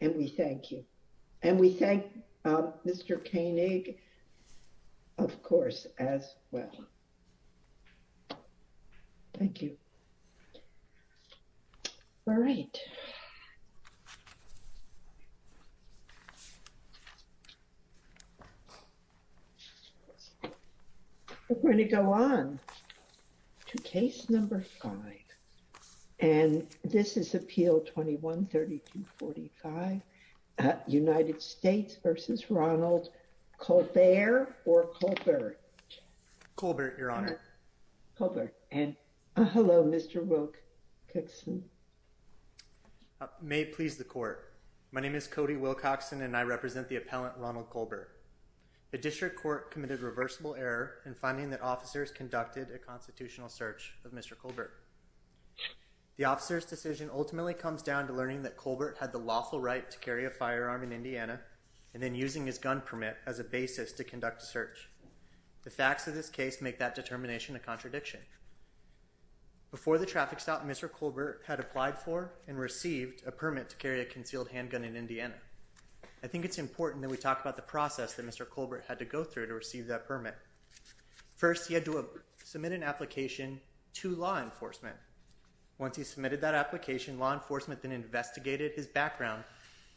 and we thank you. And we thank Mr. Koenig, of course, as well. Thank you. All right. We're United States v. Ronald Colbert or Colbert? Colbert, Your Honor. Hello, Mr. Wilcoxson. May it please the court. My name is Cody Wilcoxson and I represent the appellant Ronald Colbert. The district court committed reversible error in finding that officers conducted a constitutional search of Mr. Colbert. The officer's decision ultimately comes down to learning that Colbert had the lawful right to carry a firearm in Indiana and then using his gun permit as a basis to conduct a search. The facts of this case make that determination a contradiction. Before the traffic stop, Mr. Colbert had applied for and received a permit to carry a concealed handgun in Indiana. I think it's important that we talk about the process that Mr. Colbert had to go through to receive that permit. First, he had to submit an application to law enforcement. Once he submitted that application, law enforcement then investigated his background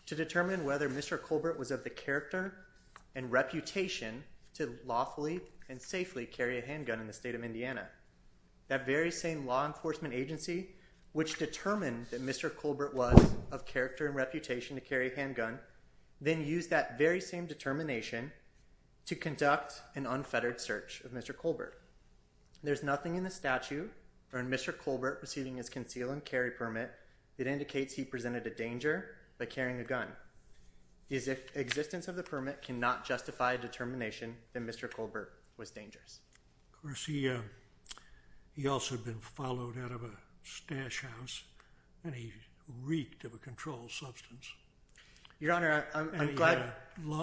to determine whether Mr. Colbert was of the character and reputation to lawfully and safely carry a handgun in the state of Indiana. That very same law enforcement agency, which determined that Mr. Colbert was of character and reputation to carry a handgun, then used that very same determination to conduct an unfettered search of Mr. Colbert. There's nothing in the statute on Mr. Colbert receiving his concealed and carry permit that indicates he presented a danger by carrying a gun. His existence of the permit cannot justify a determination that Mr. Colbert was dangerous. Of course, he also had been followed out of a stash house, and he reeked of a controlled substance. Your Honor, I'm glad— Your Honor,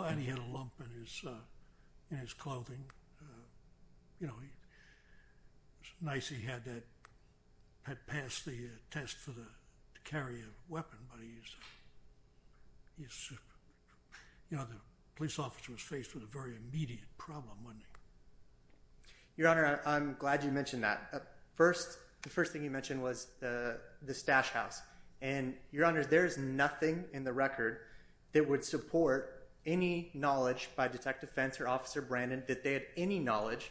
I'm glad you mentioned that. The first thing you mentioned was the stash house. Your Honor, there is nothing in the record that would support any knowledge by Detective Fentz or Officer Brandon that they had any knowledge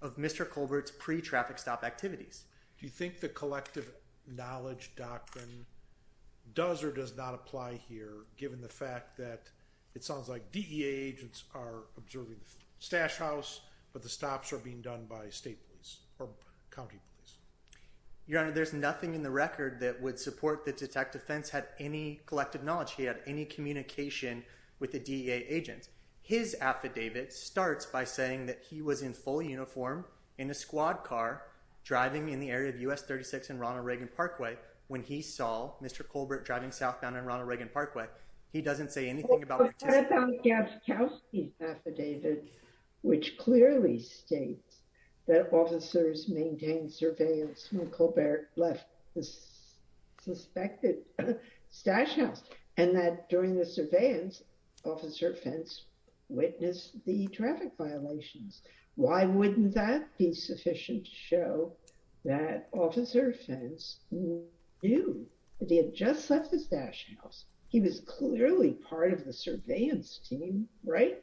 of Mr. Colbert's pre-traffic stop activities. Do you think the collective knowledge doctrine does or does not apply here, given the fact that it sounds like DEA agents are observing the stash house, but the stops are being done by state police or county police? Your Honor, there's nothing in the record that would support that Detective Fentz had any collective knowledge. He had any communication with the DEA agents. His affidavit starts by saying that he was in full uniform, in a squad car, driving in the area of U.S. 36 and Ronald Reagan Parkway when he saw Mr. Colbert driving southbound on Ronald Reagan Parkway. He doesn't say anything about— That's on Gadszkowski's affidavit, which clearly states that officers maintained surveillance when Colbert left the suspected stash house, and that during the surveillance, Officer Fentz witnessed the traffic violations. Why wouldn't that be sufficient to show that Officer Fentz knew that he had just left the stash house? He was clearly part of the surveillance team, right?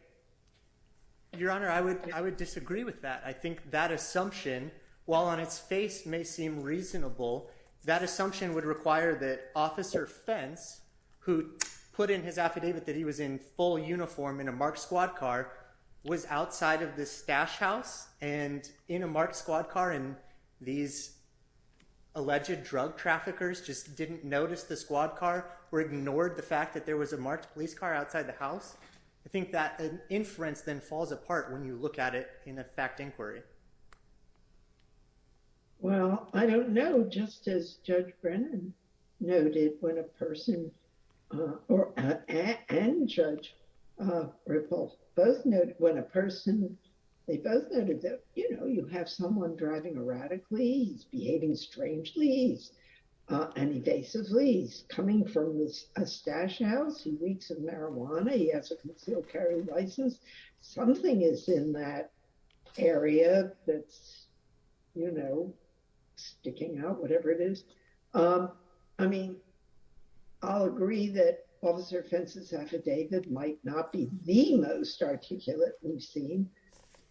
Well, I don't know. Just as Judge Brennan noted when a person—and Judge Ripple—both noted when a person—they both noted that, you know, you have someone driving erratically, he's behaving strangely, he's an evasively, he's coming from this—he's coming from a place where he's not supposed to be. He's in the stash house, he reeks of marijuana, he has a concealed carry license. Something is in that area that's, you know, sticking out, whatever it is. I mean, I'll agree that Officer Fentz's affidavit might not be the most articulate we've seen,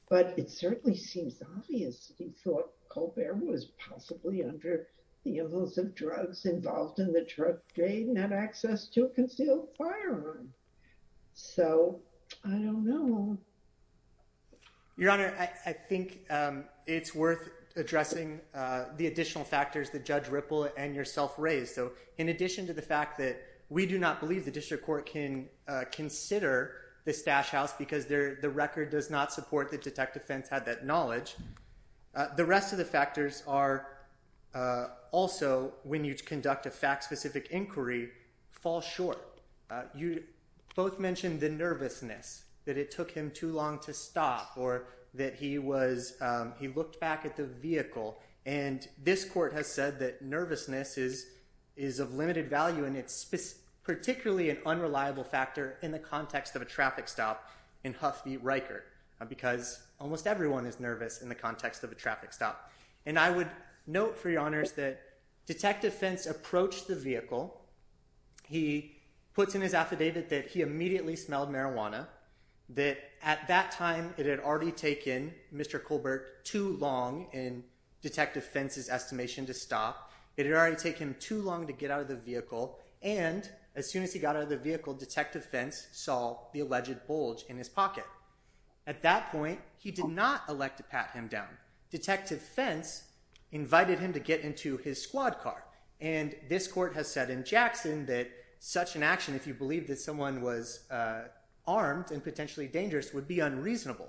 but it certainly seems obvious that he thought Colbert was possibly under the influence of drugs involved in the drug trade and had access to a concealed firearm. So, I don't know. Your Honor, I think it's worth addressing the additional factors that Judge Ripple and yourself raised. So, in addition to the fact that we do not believe the district court can consider the stash house because the record does not support that Detective Fentz had that knowledge, the rest of the factors are also, when you conduct a fact-specific inquiry, fall short. You both mentioned the nervousness, that it took him too long to stop or that he was—he looked back at the vehicle, and this court has said that nervousness is of limited value and it's particularly an unreliable factor in the context of a traffic stop in Huff v. Riker because almost everyone is nervous in the context of a traffic stop. And I would note, for your honors, that Detective Fentz approached the vehicle. He puts in his affidavit that he immediately smelled marijuana, that at that time it had already taken Mr. Colbert too long, in Detective Fentz's estimation, to stop. It had already taken him too long to get out of the vehicle, and as soon as he got out of the vehicle, Detective Fentz saw the alleged bulge in his pocket. At that point, he did not elect to pat him down. Detective Fentz invited him to get into his squad car, and this court has said in Jackson that such an action, if you believe that someone was armed and potentially dangerous, would be unreasonable.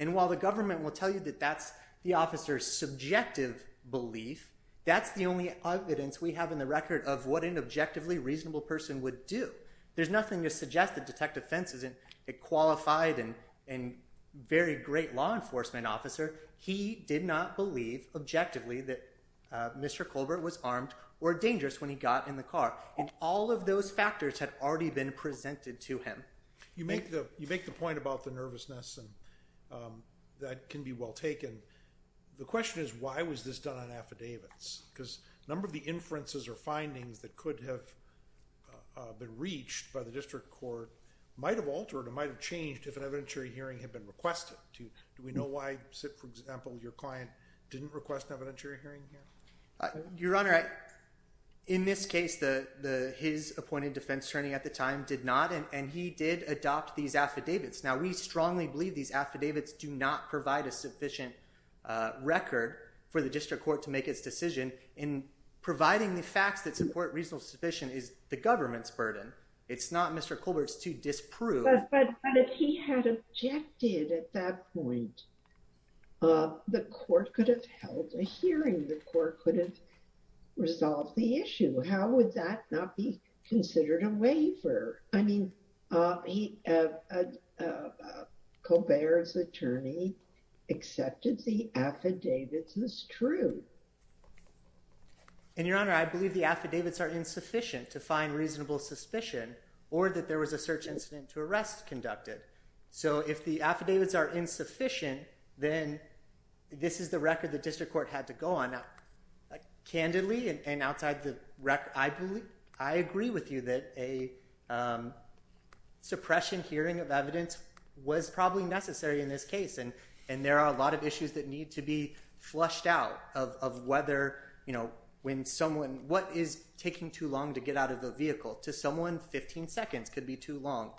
And while the government will tell you that that's the officer's subjective belief, that's the only evidence we have in the record of what an objectively reasonable person would do. There's nothing to suggest that Detective Fentz isn't a qualified and very great law enforcement officer. He did not believe objectively that Mr. Colbert was armed or dangerous when he got in the car, and all of those factors had already been presented to him. You make the point about the nervousness, and that can be well taken. The question is, why was this done on affidavits? Because a number of the inferences or findings that could have been reached by the district court might have altered or might have changed if an evidentiary hearing had been requested. Do we know why, for example, your client didn't request an evidentiary hearing here? Your Honor, in this case, his appointed defense attorney at the time did not, and he did adopt these affidavits. Now, we strongly believe these affidavits do not provide a sufficient record for the district court to make its decision in providing the facts that support reasonable suspicion is the government's burden. It's not Mr. Colbert's to disprove. But if he had objected at that point, the court could have held a hearing. The court could have resolved the issue. How would that not be considered a waiver? I mean, Colbert's attorney accepted the affidavits as true. And, Your Honor, I believe the affidavits are insufficient to find reasonable suspicion or that there was a search incident to arrest conducted. So if the affidavits are insufficient, then this is the record the district court had to go on. Candidly, and outside the record, I agree with you that a suppression hearing of evidence was probably necessary in this case. And there are a lot of issues that need to be flushed out of whether, you know, when someone, what is taking too long to get out of the vehicle? To someone, 15 seconds could be too long.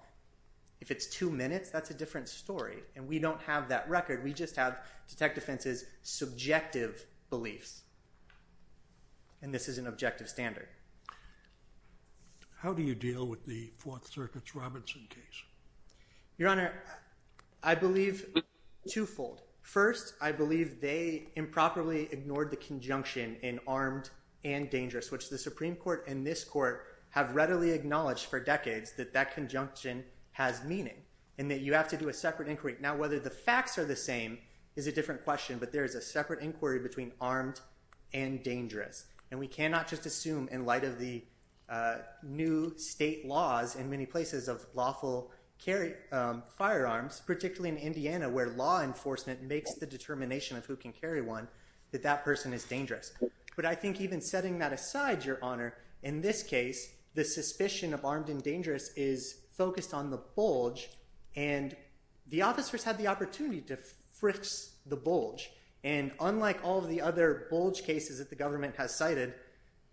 If it's two minutes, that's a different story. And we don't have that record. We just have Detective Fenton's subjective beliefs. And this is an objective standard. How do you deal with the Fourth Circuit's Robinson case? Your Honor, I believe twofold. First, I believe they improperly ignored the conjunction in armed and dangerous, which the Supreme Court and this court have readily acknowledged for decades that that conjunction has meaning. And that you have to do a separate inquiry. Now, whether the facts are the same is a different question, but there is a separate inquiry between armed and dangerous. And we cannot just assume in light of the new state laws in many places of lawful carry firearms, particularly in Indiana where law enforcement makes the determination of who can carry one, that that person is dangerous. But I think even setting that aside, Your Honor, in this case, the suspicion of armed and dangerous is focused on the bulge. And the officers had the opportunity to fix the bulge. And unlike all of the other bulge cases that the government has cited,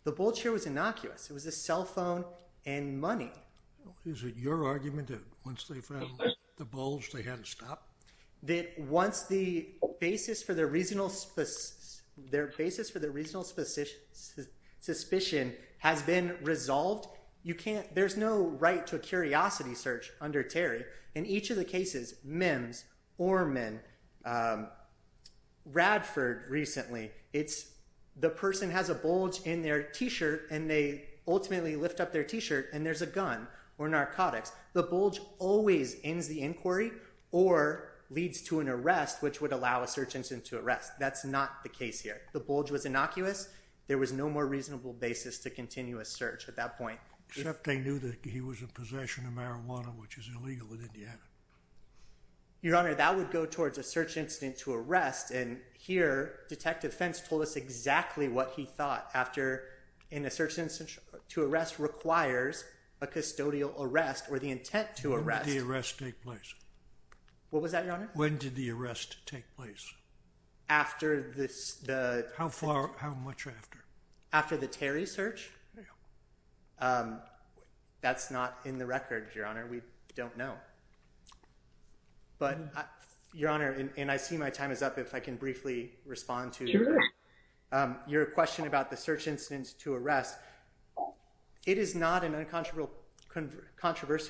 the bulge here was innocuous. It was a cell phone and money. Is it your argument that once they found the bulge, they had to stop? That once the basis for the reasonable suspicion has been resolved, there's no right to a curiosity search under Terry. In each of the cases, Mims, Orman, Radford recently, the person has a bulge in their t-shirt and they ultimately lift up their t-shirt and there's a gun or narcotics. The bulge always ends the inquiry or leads to an arrest, which would allow a search incident to arrest. That's not the case here. The bulge was innocuous. There was no more reasonable basis to continue a search at that point. Except they knew that he was in possession of marijuana, which is illegal in Indiana. Your Honor, that would go towards a search incident to arrest. And here, Detective Fentz told us exactly what he thought after in a search incident to arrest requires a custodial arrest or the intent to arrest. When did the arrest take place? What was that, Your Honor? When did the arrest take place? After the... How far, how much after? After the Terry search? Yeah. That's not in the record, Your Honor. We don't know. But, Your Honor, and I see my time is up. If I can briefly respond to your question about the search incidents to arrest. It is not an uncontroversial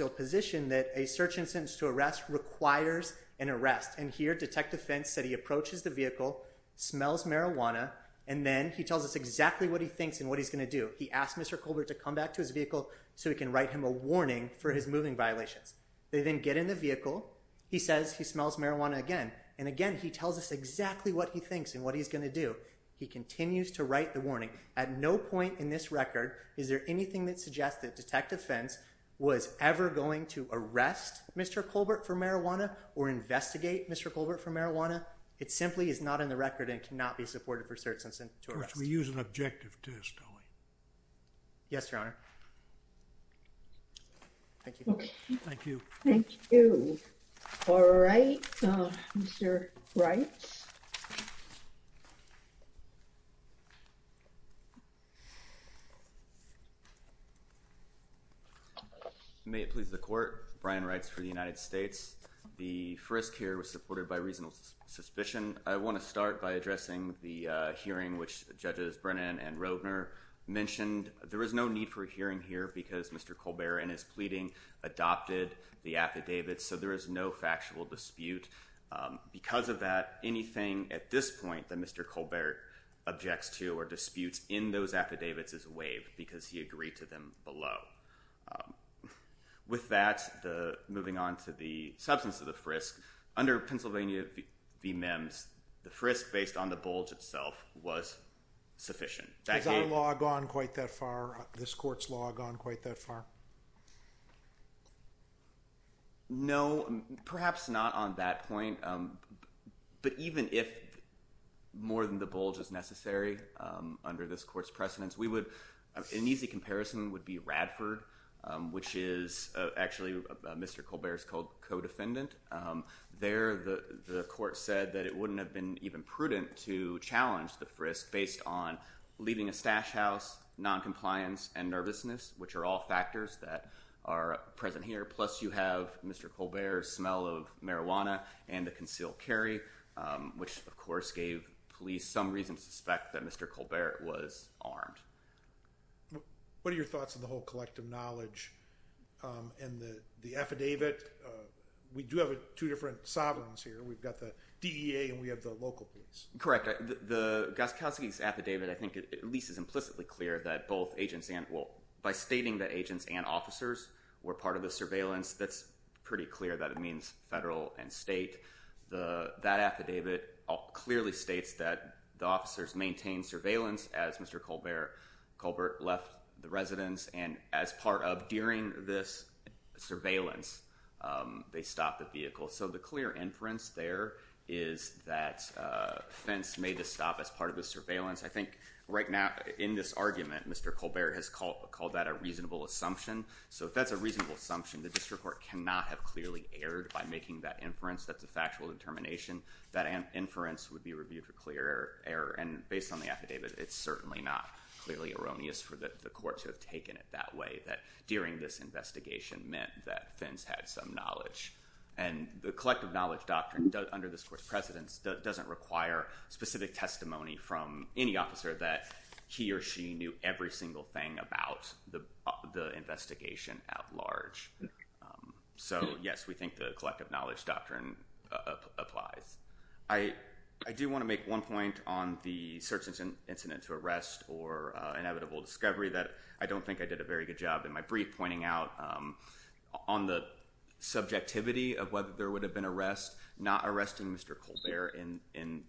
position that a search instance to arrest requires an arrest. And here, Detective Fentz said he approaches the vehicle, smells marijuana, and then he tells us exactly what he thinks and what he's going to do. He asked Mr. Colbert to come back to his vehicle so he can write him a warning for his moving violations. They then get in the vehicle. He says he smells marijuana again. And again, he tells us exactly what he thinks and what he's going to do. He continues to write the warning. At no point in this record is there anything that suggests that Detective Fentz was ever going to arrest Mr. Colbert for marijuana or investigate Mr. Colbert for marijuana. It simply is not in the record and cannot be supported for search incident to arrest. We use an objective test, don't we? Yes, Your Honor. Thank you. Thank you. Thank you. All right. Mr. Reitz. May it please the Court. Brian Reitz for the United States. The frisk here was supported by reasonable suspicion. I want to start by addressing the hearing which Judges Brennan and Roedner mentioned. There is no need for a hearing here because Mr. Colbert, in his pleading, adopted the affidavits, so there is no factual dispute. Because of that, anything at this point that Mr. Colbert objects to or disputes in those affidavits is waived because he agreed to them below. With that, moving on to the substance of the frisk, under Pennsylvania v. MEMS, the frisk based on the bulge itself was sufficient. Has our law gone quite that far, this Court's law gone quite that far? No, perhaps not on that point. But even if more than the bulge is necessary under this Court's precedence, an easy comparison would be Radford, which is actually Mr. Colbert's co-defendant. There, the Court said that it wouldn't have been even prudent to challenge the frisk based on leaving a stash house, noncompliance, and nervousness, which are all factors that are present here, plus you have Mr. Colbert's smell of marijuana and the concealed carry, which of course gave police some reason to suspect that Mr. Colbert was armed. What are your thoughts on the whole collective knowledge and the affidavit? We do have two different sovereigns here. We've got the DEA and we have the local police. Correct. The Gostkowski's affidavit I think at least is implicitly clear that both agents and, well, by stating that agents and officers were part of the surveillance, that's pretty clear that it means federal and state. That affidavit clearly states that the officers maintained surveillance as Mr. Colbert left the residence, and as part of during this surveillance, they stopped the vehicle. So the clear inference there is that Fentz made the stop as part of the surveillance. I think right now in this argument, Mr. Colbert has called that a reasonable assumption. So if that's a reasonable assumption, the district court cannot have clearly erred by making that inference. That's a factual determination. That inference would be reviewed for clear error. And based on the affidavit, it's certainly not clearly erroneous for the court to have taken it that way, that during this investigation meant that Fentz had some knowledge. And the collective knowledge doctrine under this court's precedence doesn't require specific testimony from any officer that he or she knew every single thing about the investigation at large. So, yes, we think the collective knowledge doctrine applies. I do want to make one point on the search incident to arrest or inevitable discovery that I don't think I did a very good job in my brief pointing out. On the subjectivity of whether there would have been arrest, not arresting Mr. Colbert in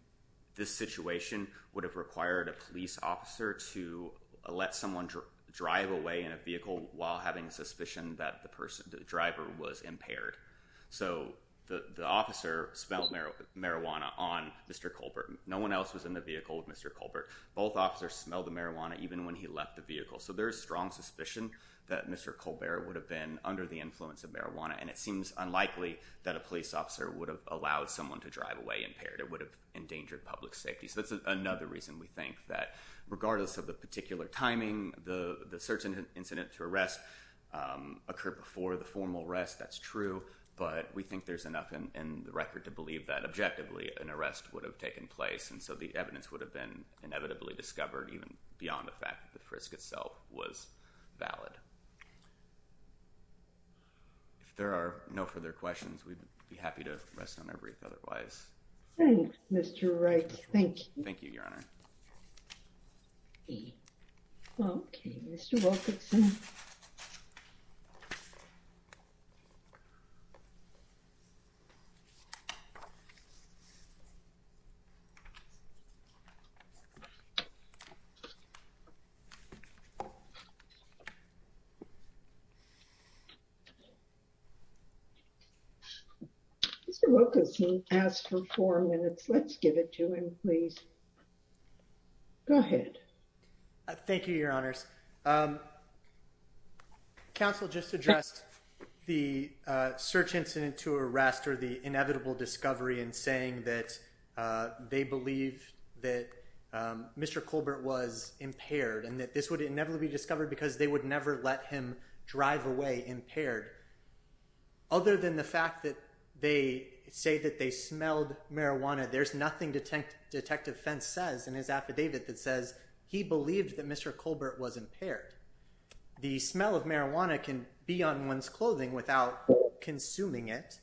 this situation would have required a police officer to let someone drive away in a vehicle while having a suspicion that the person, the driver, was impaired. So the officer smelled marijuana on Mr. Colbert. No one else was in the vehicle with Mr. Colbert. Both officers smelled the marijuana even when he left the vehicle. So there is strong suspicion that Mr. Colbert would have been under the influence of marijuana. And it seems unlikely that a police officer would have allowed someone to drive away impaired. It would have endangered public safety. So that's another reason we think that regardless of the particular timing, the search incident to arrest occurred before the formal arrest. That's true. But we think there's enough in the record to believe that, objectively, an arrest would have taken place. And so the evidence would have been inevitably discovered even beyond the fact that the frisk itself was valid. If there are no further questions, we'd be happy to rest on our brief otherwise. Thanks, Mr. Wright. Thank you. Thank you, Your Honor. Okay, Mr. Wilkinson. Mr. Wilkinson asked for four minutes. Let's give it to him, please. Go ahead. Thank you, Your Honors. Counsel just addressed the search incident to arrest or the inevitable discovery and saying that they believe that the police officer was involved. They believe that Mr. Colbert was impaired and that this would inevitably be discovered because they would never let him drive away impaired. Other than the fact that they say that they smelled marijuana, there's nothing Detective Fentz says in his affidavit that says he believed that Mr. Colbert was impaired. The smell of marijuana can be on one's clothing without consuming it.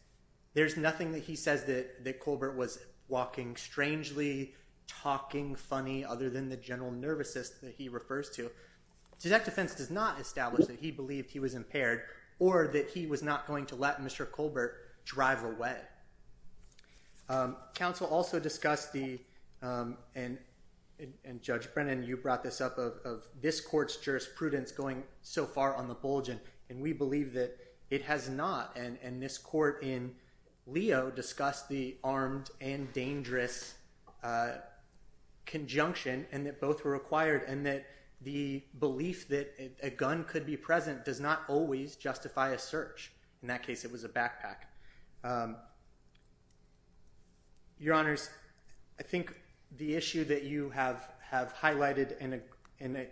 There's nothing that he says that Colbert was walking strangely, talking funny, other than the general nervousness that he refers to. Detective Fentz does not establish that he believed he was impaired or that he was not going to let Mr. Colbert drive away. Counsel also discussed the, and Judge Brennan, you brought this up, of this court's jurisprudence going so far on the bulge, and we believe that it has not, and this court in Leo discussed the armed and dangerous conjunction, and that both were required and that the belief that a gun could be present does not always justify a search. In that case, it was a backpack. Your Honors, I think the issue that you have highlighted and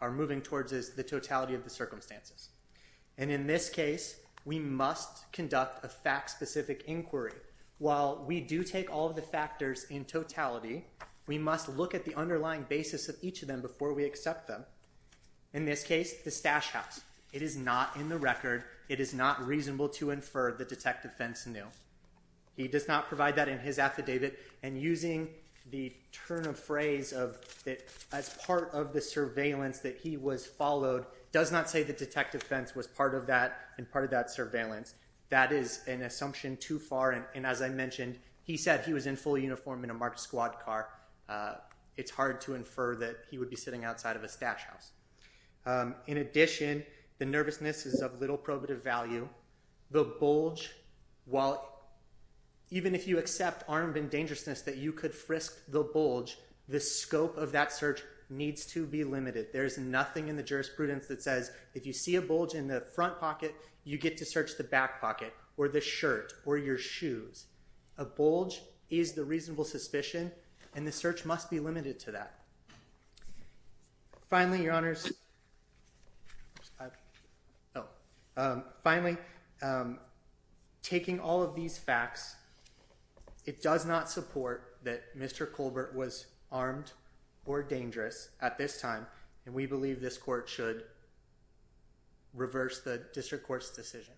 are moving towards is the totality of the circumstances. And in this case, we must conduct a fact-specific inquiry. While we do take all of the factors in totality, we must look at the underlying basis of each of them before we accept them. In this case, the stash house. It is not in the record. It is not reasonable to infer that Detective Fentz knew. He does not provide that in his affidavit, and using the turn of phrase of that as part of the surveillance that he was followed does not say that Detective Fentz was part of that and part of that surveillance. That is an assumption too far, and as I mentioned, he said he was in full uniform in a marked squad car. It is hard to infer that he would be sitting outside of a stash house. In addition, the nervousness is of little probative value. The bulge, even if you accept armed and dangerousness that you could frisk the bulge, the scope of that search needs to be limited. There is nothing in the jurisprudence that says if you see a bulge in the front pocket, you get to search the back pocket or the shirt or your shoes. A bulge is the reasonable suspicion, and the search must be limited to that. Finally, taking all of these facts, it does not support that Mr. Colbert was armed or dangerous at this time, and we believe this court should reverse the district court's decision.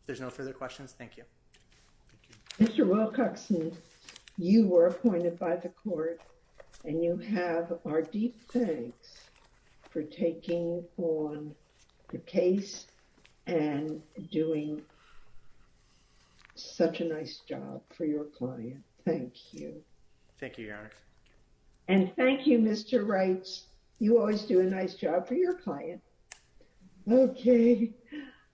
If there are no further questions, thank you. Mr. Wilcoxon, you were appointed by the court, and you have our deep thanks for taking on the case and doing such a nice job for your client. Thank you. Thank you, Your Honor. And thank you, Mr. Reitz. You always do a nice job for your client. Okay.